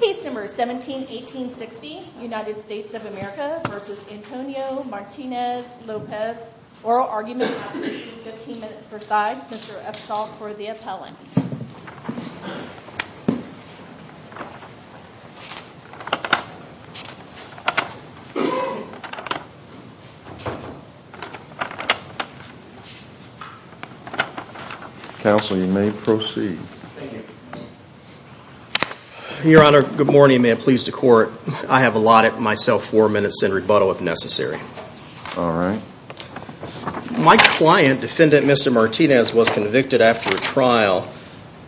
Case No. 17-1860 United States of America v. Antonio Martinez-Lopez Oral Argument, 15 minutes per side Mr. Upshaw for the appellant Counsel, you may proceed Your Honor, good morning and may it please the court I have allotted myself four minutes in rebuttal if necessary Alright My client, defendant Mr. Martinez, was convicted after a trial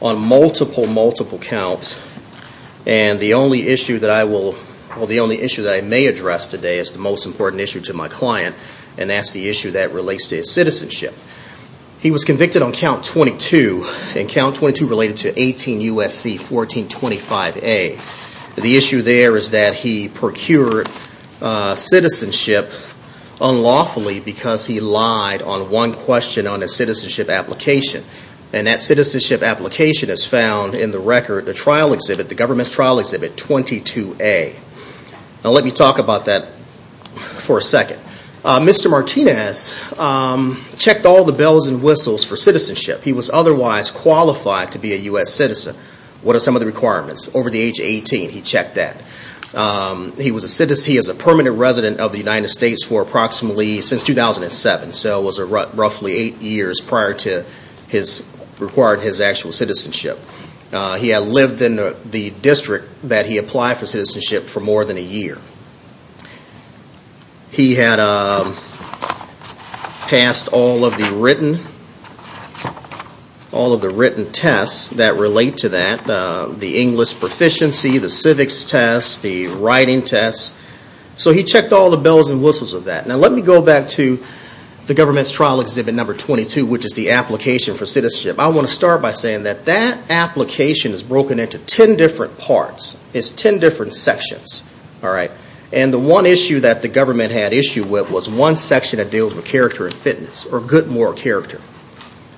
on multiple, multiple counts and the only issue that I will well, the only issue that I may address today is the most important issue to my client and that's the issue that relates to his citizenship He was convicted on count 22 and count 22 related to 18 U.S.C. 1425A The issue there is that he procured citizenship unlawfully because he lied on one question on a citizenship application and that citizenship application is found in the record, the trial exhibit the government's trial exhibit 22A Now let me talk about that for a second Mr. Martinez checked all the bells and whistles for citizenship He was otherwise qualified to be a U.S. citizen What are some of the requirements? Over the age of 18, he checked that He was a permanent resident of the United States for approximately since 2007, so it was roughly 8 years prior to his required, his actual citizenship He had lived in the district that he applied for citizenship for more than a year He had passed all of the written all of the written tests that relate to that the English proficiency, the civics test, the writing test So he checked all the bells and whistles of that Now let me go back to the government's trial exhibit number 22 which is the application for citizenship I want to start by saying that that application is broken into 10 different parts It's 10 different sections And the one issue that the government had issue with was one section that deals with character and fitness or good moral character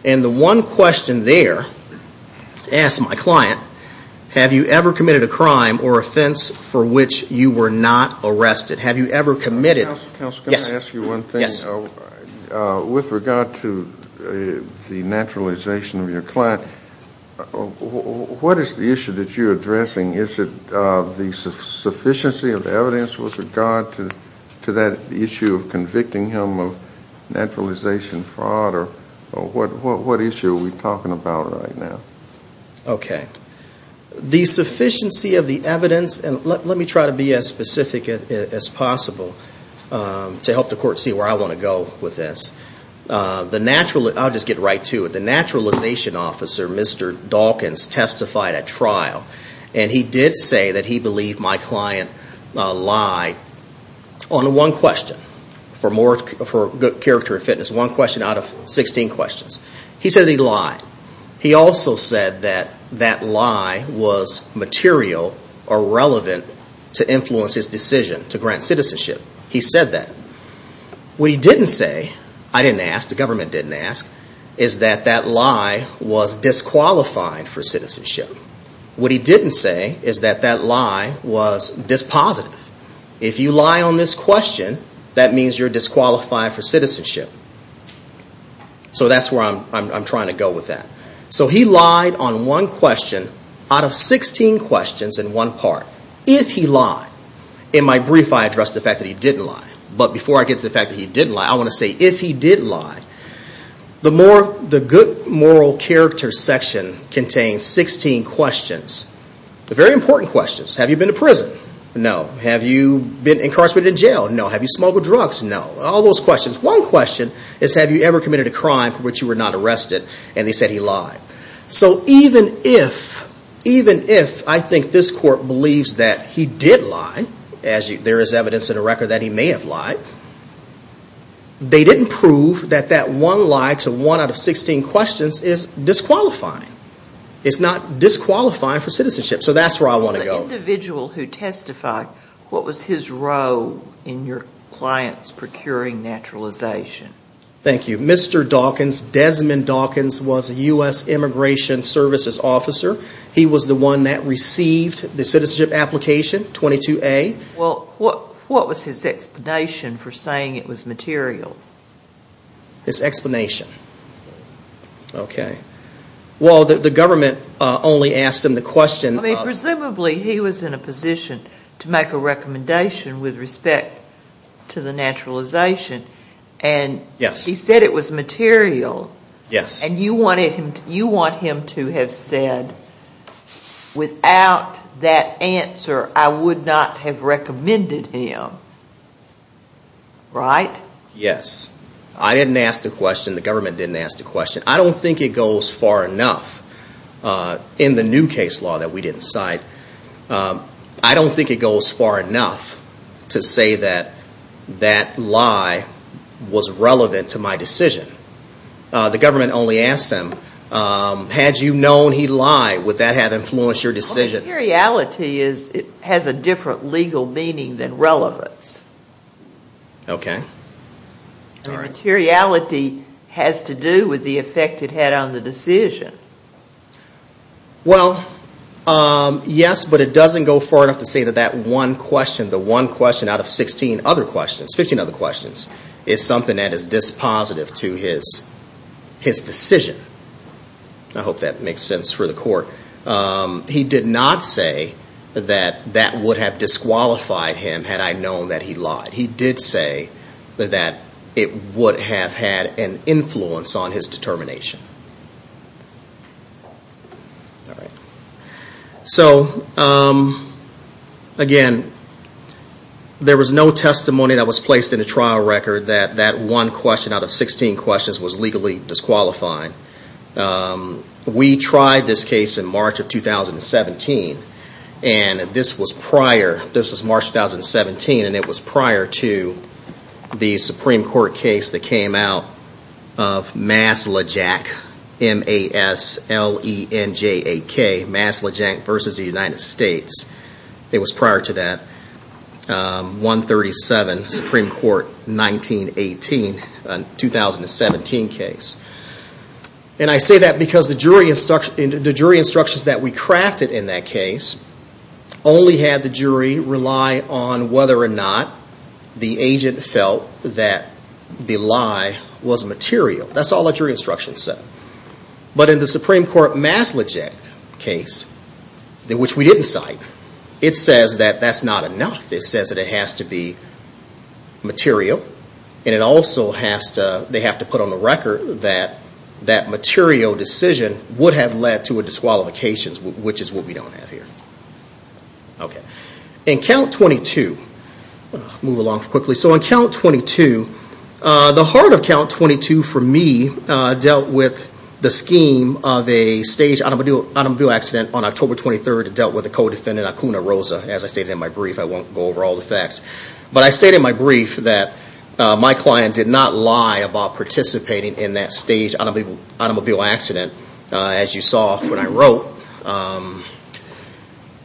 And the one question there asked my client Have you ever committed a crime or offense for which you were not arrested? Have you ever committed Counselor, can I ask you one thing? With regard to the naturalization of your client what is the issue that you're addressing? Is it the sufficiency of evidence with regard to that issue of convicting him of naturalization fraud? What issue are we talking about right now? Okay The sufficiency of the evidence Let me try to be as specific as possible to help the court see where I want to go with this I'll just get right to it The naturalization officer, Mr. Dawkins, testified at trial and he did say that he believed my client lied on one question for character and fitness one question out of 16 questions He said he lied He also said that that lie was material or relevant to influence his decision to grant citizenship He said that What he didn't say is that that lie was disqualified for citizenship What he didn't say is that that lie was dispositive If you lie on this question that means you're disqualified for citizenship So that's where I'm trying to go with that So he lied on one question out of 16 questions in one part If he lied In my brief I addressed the fact that he didn't lie But before I get to the fact that he didn't lie I want to say if he did lie The good moral character section contains 16 questions Very important questions Have you been to prison? No Have you been incarcerated in jail? No Have you smuggled drugs? No All those questions One question is have you ever committed a crime for which you were not arrested and they said he lied So even if even if I think this court believes that he did lie as there is evidence in the record that he may have lied They didn't prove that that one lie to one out of 16 questions is disqualifying It's not disqualifying for citizenship So that's where I want to go The individual who testified What was his role in your client's procuring naturalization? Thank you Mr. Dawkins, Desmond Dawkins was a U.S. Immigration Services Officer He was the one that received the citizenship application 22A What was his explanation for saying it was material? His explanation Well the government only asked him the question Presumably he was in a position to make a recommendation with respect to the naturalization and he said it was material and you want him to have said Without that answer I would not have recommended him Right? Yes I didn't ask the question The government didn't ask the question I don't think it goes far enough in the new case law that we didn't cite I don't think it goes far enough to say that that lie was relevant to my decision The government only asked him Had you known he lied would that have influenced your decision? Materiality has a different legal meaning than relevance Okay Materiality has to do with the effect it had on the decision Well Yes, but it doesn't go far enough to say that that one question the one question out of 16 other questions 15 other questions is something that is dispositive to his decision I hope that makes sense for the court He did not say that that would have disqualified him had I known that he lied He did say that it would have had an influence on his determination Alright So Again There was no testimony that was placed in the trial record that that one question out of 16 questions was legally disqualifying We tried this case in March of 2017 and this was prior this was March 2017 and it was prior to the Supreme Court case that came out of Maslijak M-A-S-L-E-N-J-A-K Maslijak versus the United States It was prior to that 137 Supreme Court 1918 2017 case And I say that because the jury instructions that we crafted in that case only had the jury rely on whether or not the agent felt that the lie was material That's all the jury instructions said But in the Supreme Court Maslijak case which we didn't cite it says that that's not enough It says that it has to be material And it also has to they have to put on the record that that material decision would have led to a disqualification which is what we don't have here Okay In count 22 I'll move along quickly So in count 22 The heart of count 22 for me dealt with the scheme of a staged automobile accident on October 23rd It dealt with a co-defendant Akuna Rosa As I stated in my brief I won't go over all the facts But I stated in my brief that my client did not lie about participating in that staged automobile accident as you saw when I wrote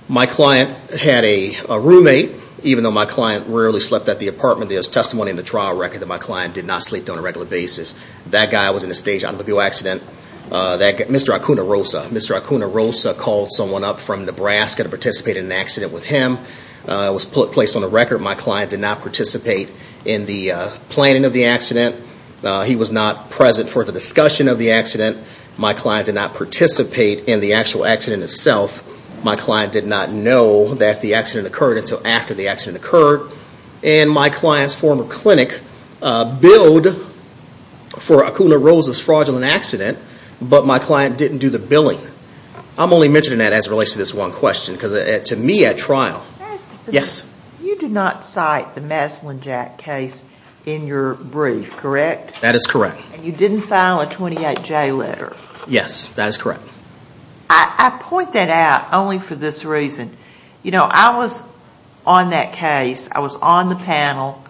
My client had a roommate even though my client rarely slept at the apartment there's testimony in the trial record that my client did not sleep there on a regular basis That guy was in a staged automobile accident Mr. Akuna Rosa Mr. Akuna Rosa called someone up from Nebraska to participate in an accident with him It was placed on the record My client did not participate in the planning of the accident He was not present for the discussion of the accident My client did not participate in the actual accident itself My client did not know that the accident occurred until after the accident occurred And my client's former clinic billed for Akuna Rosa's fraudulent accident but my client didn't do the billing I'm only mentioning that as it relates to this one question because to me at trial Yes You did not cite the Maslin-Jack case in your brief, correct? That is correct And you didn't file a 28-J letter Yes, that is correct I point that out only for this reason You know, I was on that case, I was on the panel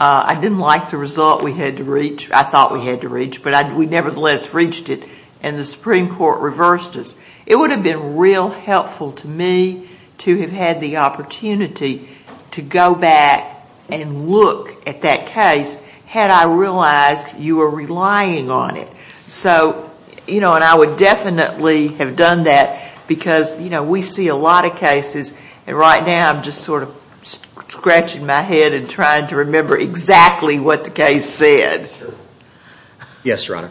I didn't like the result we had to reach, I thought we had to reach but we nevertheless reached it and the Supreme Court reversed us It would have been real helpful to me to have had the opportunity to go back and look at that case had I realized you were relying on it So, you know, and I would definitely have done that because you know, we see a lot of cases and right now I'm just sort of scratching my head and trying to remember exactly what the case said Yes, Your Honor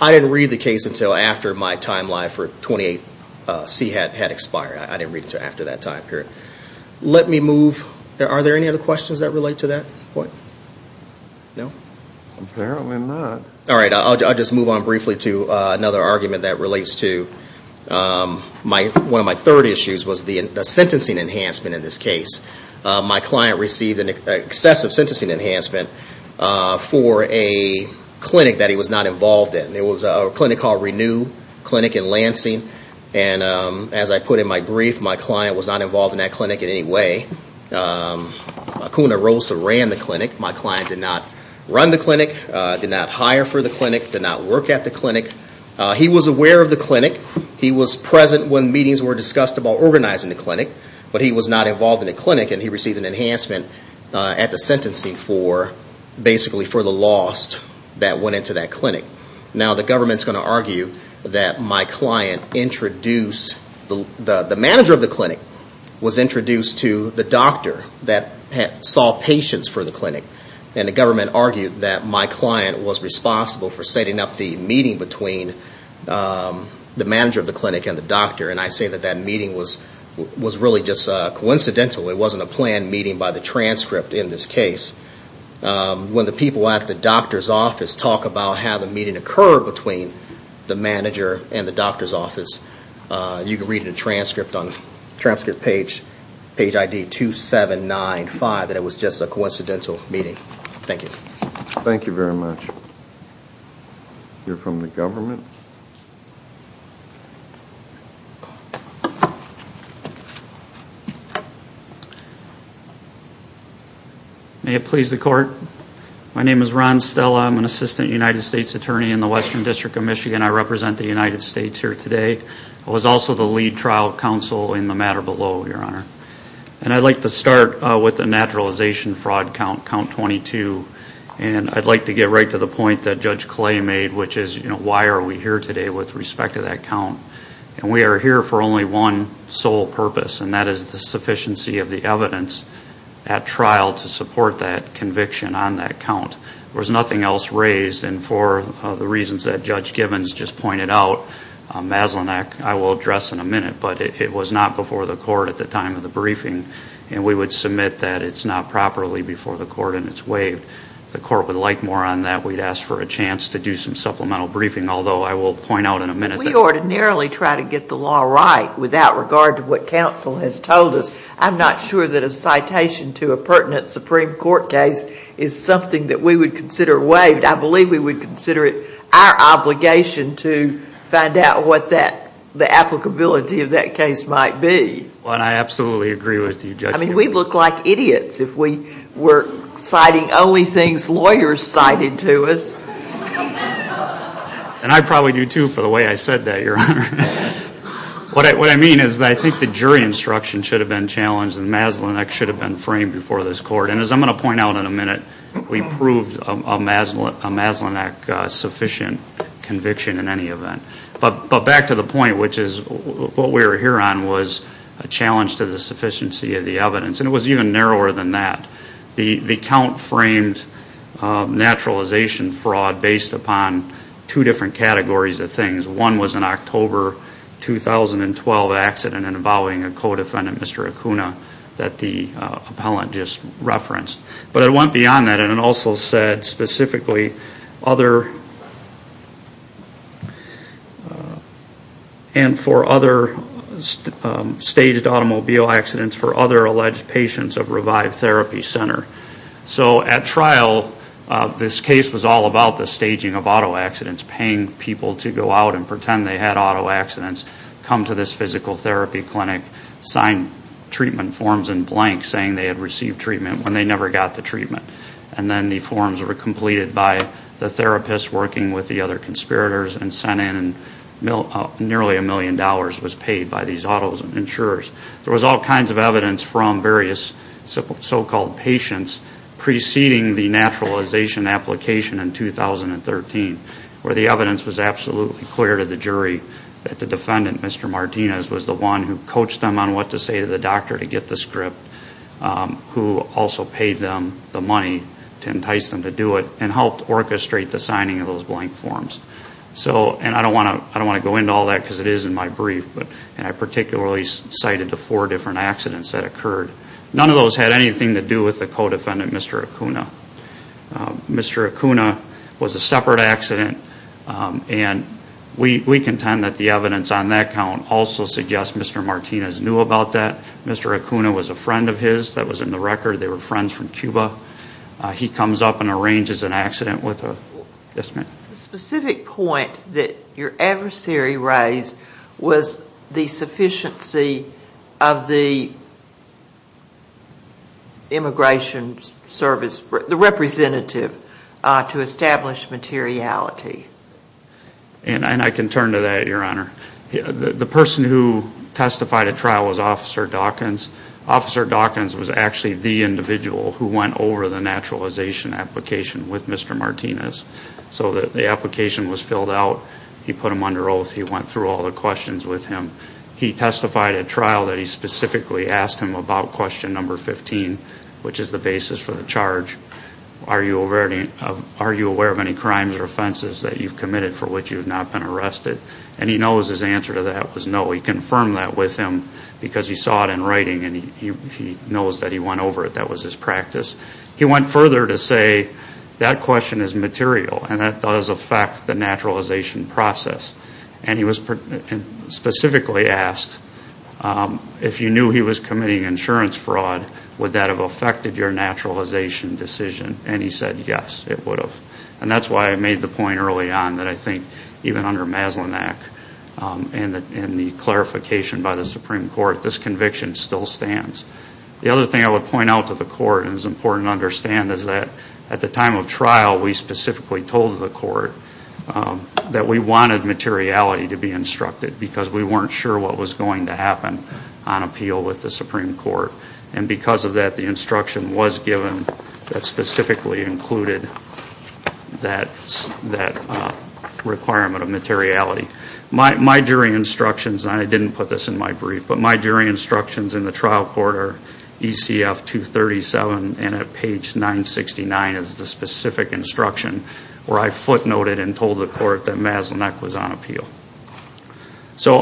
I didn't read the case until after my timeline for 28C had expired I didn't read it until after that time period Let me move, are there any other questions that relate to that point? No? Apparently not Alright, I'll just move on briefly to another argument that relates to one of my third issues was the sentencing enhancement in this case My client received an excessive sentencing enhancement for a clinic that he was not involved in It was a clinic called Renew Clinic in Lansing and as I put in my brief my client was not involved in that clinic in any way Acuna Rosa ran the clinic My client did not run the clinic did not hire for the clinic did not work at the clinic He was aware of the clinic He was present when meetings were discussed about organizing the clinic but he was not involved in the clinic and he received an enhancement at the sentencing for basically for the lost that went into that clinic Now the government is going to argue that my client introduced the manager of the clinic was introduced to the doctor that saw patients for the clinic and the government argued that my client was responsible for setting up the meeting between the manager of the clinic and the doctor and I say that that meeting was really just a transcript in this case When the people at the doctor's office talk about how the meeting occurred between the manager and the doctor's office you can read the transcript on page ID 2795 that it was just a coincidental meeting Thank you Thank you very much You're from the government May it please the court My name is Ron Stella I'm an assistant United States attorney in the Western District of Michigan I represent the United States here today I was also the lead trial counsel in the matter below, your honor and I'd like to start with the naturalization fraud count, count 22 and I'd like to get right to the point that Judge Clay made, which is why are we here today with respect to that count and we are here for only one sole purpose, and that is the sufficiency of the evidence at trial to support that conviction on that count There's nothing else raised, and for the reasons that Judge Givens just pointed out Maslennik, I will address in a minute, but it was not before the court at the time of the briefing and we would submit that it's not properly before the court and it's waived If the court would like more on that, we'd ask for a chance to do some supplemental briefing although I will point out in a minute that We ordinarily try to get the law right without regard to what counsel has told us I'm not sure that a citation to a pertinent Supreme Court case is something that we would consider waived. I believe we would consider it our obligation to find out what that applicability of that case might be Well, I absolutely agree with you, Judge I mean, we'd look like idiots if we were citing only things lawyers cited to us And I probably do too for the way I said that, your honor What I mean is I think the jury instruction should have been challenged and Maslennik should have been framed before this court, and as I'm going to point out in a minute we proved a Maslennik sufficient conviction in any event But back to the point, which is what we were here on was a challenge to the sufficiency of the evidence and it was even narrower than that The count framed naturalization fraud based upon two different categories of things. One was an October 2012 accident involving a co-defendant, Mr. Acuna that the appellant just referenced. But it went beyond that and it also said specifically other and for other staged automobile accidents for other alleged patients of Revive Therapy Center So at trial this case was all about the staging of auto accidents, paying people to go out and pretend they had auto accidents come to this physical therapy clinic, sign treatment forms in blank saying they had received treatment when they never got the treatment and then the forms were completed by the therapist working with the other conspirators and sent in nearly a million dollars was paid by these auto insurers There was all kinds of evidence from various so-called patients preceding the naturalization application in 2013 where the evidence was absolutely clear to the jury that the defendant Mr. Martinez was the one who coached them on what to say to the doctor to get the script who also paid them the money to entice them to do it and helped orchestrate the signing of those blank forms So, and I don't want to go into all that because it is in my brief and I particularly cited the four different accidents that occurred. None of those had anything to do with the co-defendant, Mr. Acuna. Mr. Acuna was a separate accident and we contend that the evidence on that count also suggests Mr. Martinez knew about that. Mr. Acuna was a friend of his. That was in the record. They were friends from Cuba. He comes up and arranges an accident with a The specific point that your adversary raised was the sufficiency of the immigration service representative to establish materiality And I can turn to that your honor. The person who testified at trial was Officer Dawkins. Officer Dawkins was actually the individual who went over the naturalization application with Mr. Martinez so that the application was filled out He put him under oath. He went through all the questions with him. He testified at trial that he specifically asked him about question number 15 which is the basis for the charge Are you aware of any crimes or offenses that you've committed for which you have not been arrested and he knows his answer to that was no. He confirmed that with him because he saw it in writing and he knows that he went over it. That was his practice He went further to say that question is material and that does affect the naturalization process and he was specifically asked if you knew he was committing insurance fraud would that have affected your naturalization decision and he said yes it would have and that's why I made the point early on that I think even under Maslennik and the clarification by the Supreme Court this conviction still stands. The other thing I would point out to the court and it's important to understand is that at the time of trial we specifically told the court that we wanted materiality to be instructed because we weren't sure what was going to happen on appeal with the Supreme Court and because of that the instruction was given that specifically included that requirement of materiality My jury instructions, and I didn't put this in my brief, but my jury instructions in the trial court are ECF 237 and at page 969 is the specific instruction where I footnoted and told the court that Maslennik was on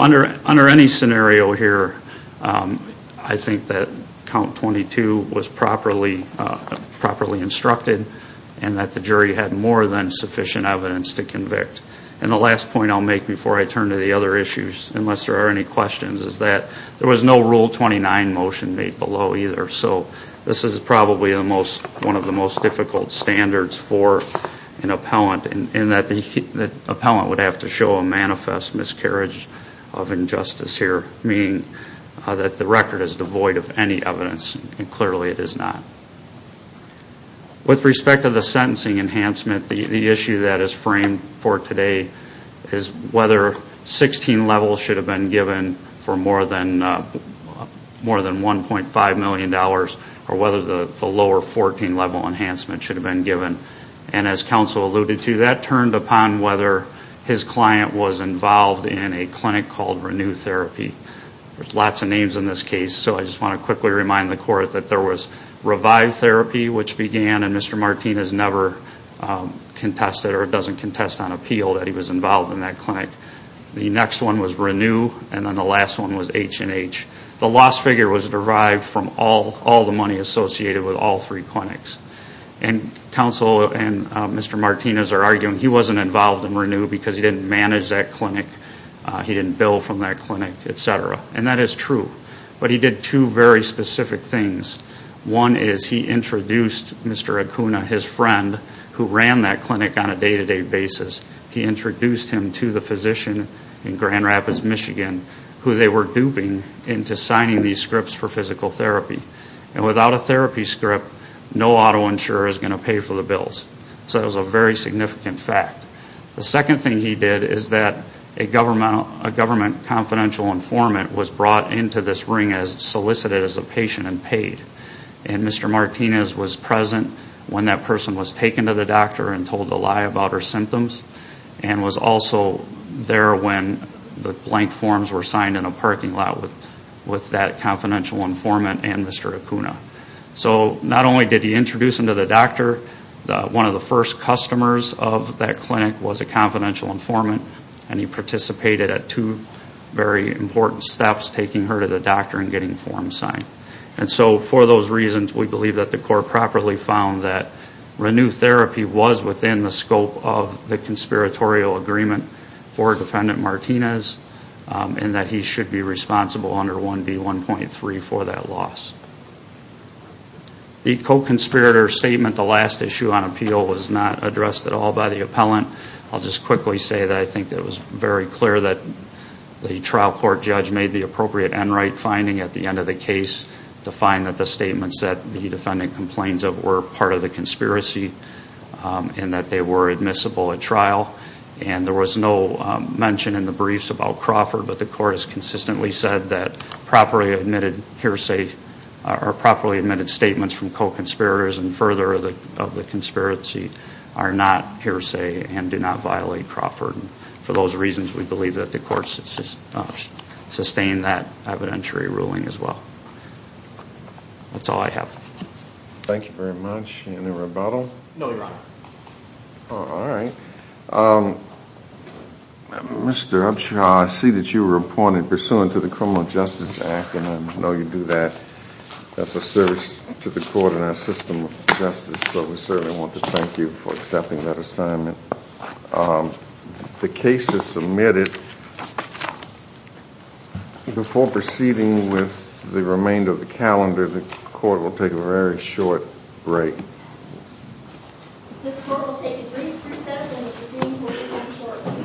Under any scenario here I think that count 22 was properly instructed and that the jury had more than sufficient evidence to convict and the last point I'll make before I turn to the other issues unless there are any questions is that there was no rule 29 motion made below either so this is probably the most one of the most difficult standards for an appellant in that the appellant would have to show a manifest miscarriage of injustice here meaning that the record is devoid of any evidence and clearly it is not With respect to the sentencing enhancement the issue that is framed for today is whether 16 levels should have been given for more than 1.5 million dollars or whether the lower 14 level enhancement should have been given and as counsel alluded to that turned upon whether his client was involved in a clinic called Renew Therapy. There's lots of names in this case so I just want to quickly remind the court that there was Revive Therapy which began and Mr. Martinez never contested or doesn't contest on appeal that he was involved in that clinic. The next one was Renew and then the last one was H&H. The loss figure was derived from all the money associated with all three clinics and counsel and Mr. Martinez are arguing he wasn't involved in Renew because he didn't manage that clinic he didn't bill from that clinic etc. and that is true but he did two very specific things one is he introduced Mr. Acuna, his friend who ran that clinic on a day to day basis. He introduced him to the physician in Grand Rapids Michigan who they were duping into signing these scripts for physical therapy and without a therapy script no auto insurer is going to pay for the bills. So that was a very significant fact. The second thing he did is that a government confidential informant was brought into this ring as solicited as a patient and paid and Mr. Martinez was present when that person was taken to the doctor and told a lie about her symptoms and was also there when the blank forms were signed in a parking lot with that confidential informant and Mr. Acuna. So not only did he introduce him to the doctor one of the first customers of that clinic was a confidential informant and he participated at two very important steps taking her to the doctor and getting forms signed. And so for those reasons we believe that the court properly found that Renu therapy was within the scope of the conspiratorial agreement for defendant Martinez and that he should be responsible under 1B1.3 for that loss. The co-conspirator statement, the last issue on appeal was not addressed at all by the appellant. I'll just quickly say that I think it was very clear that the trial court judge made the appropriate end right finding at the end of the case to find that the statements that the defendant complains of were part of the conspiracy and that they were admissible at trial and there was no mention in the briefs about Crawford but the court has consistently said that properly admitted hearsay or properly admitted statements from co-conspirators and further of the conspiracy are not hearsay and do not violate Crawford and for those reasons we believe that the court sustained that evidentiary ruling as well. That's all I have. Thank you very much. Any rebuttal? No, your honor. Alright. Mr. Upshaw, I see that you were appointed pursuant to the Criminal Justice Act and I know you do that as a service to the court and our system of justice so we certainly want to thank you for accepting that assignment. The case is submitted. Before proceeding with the remainder of the calendar, the court will take a very short break.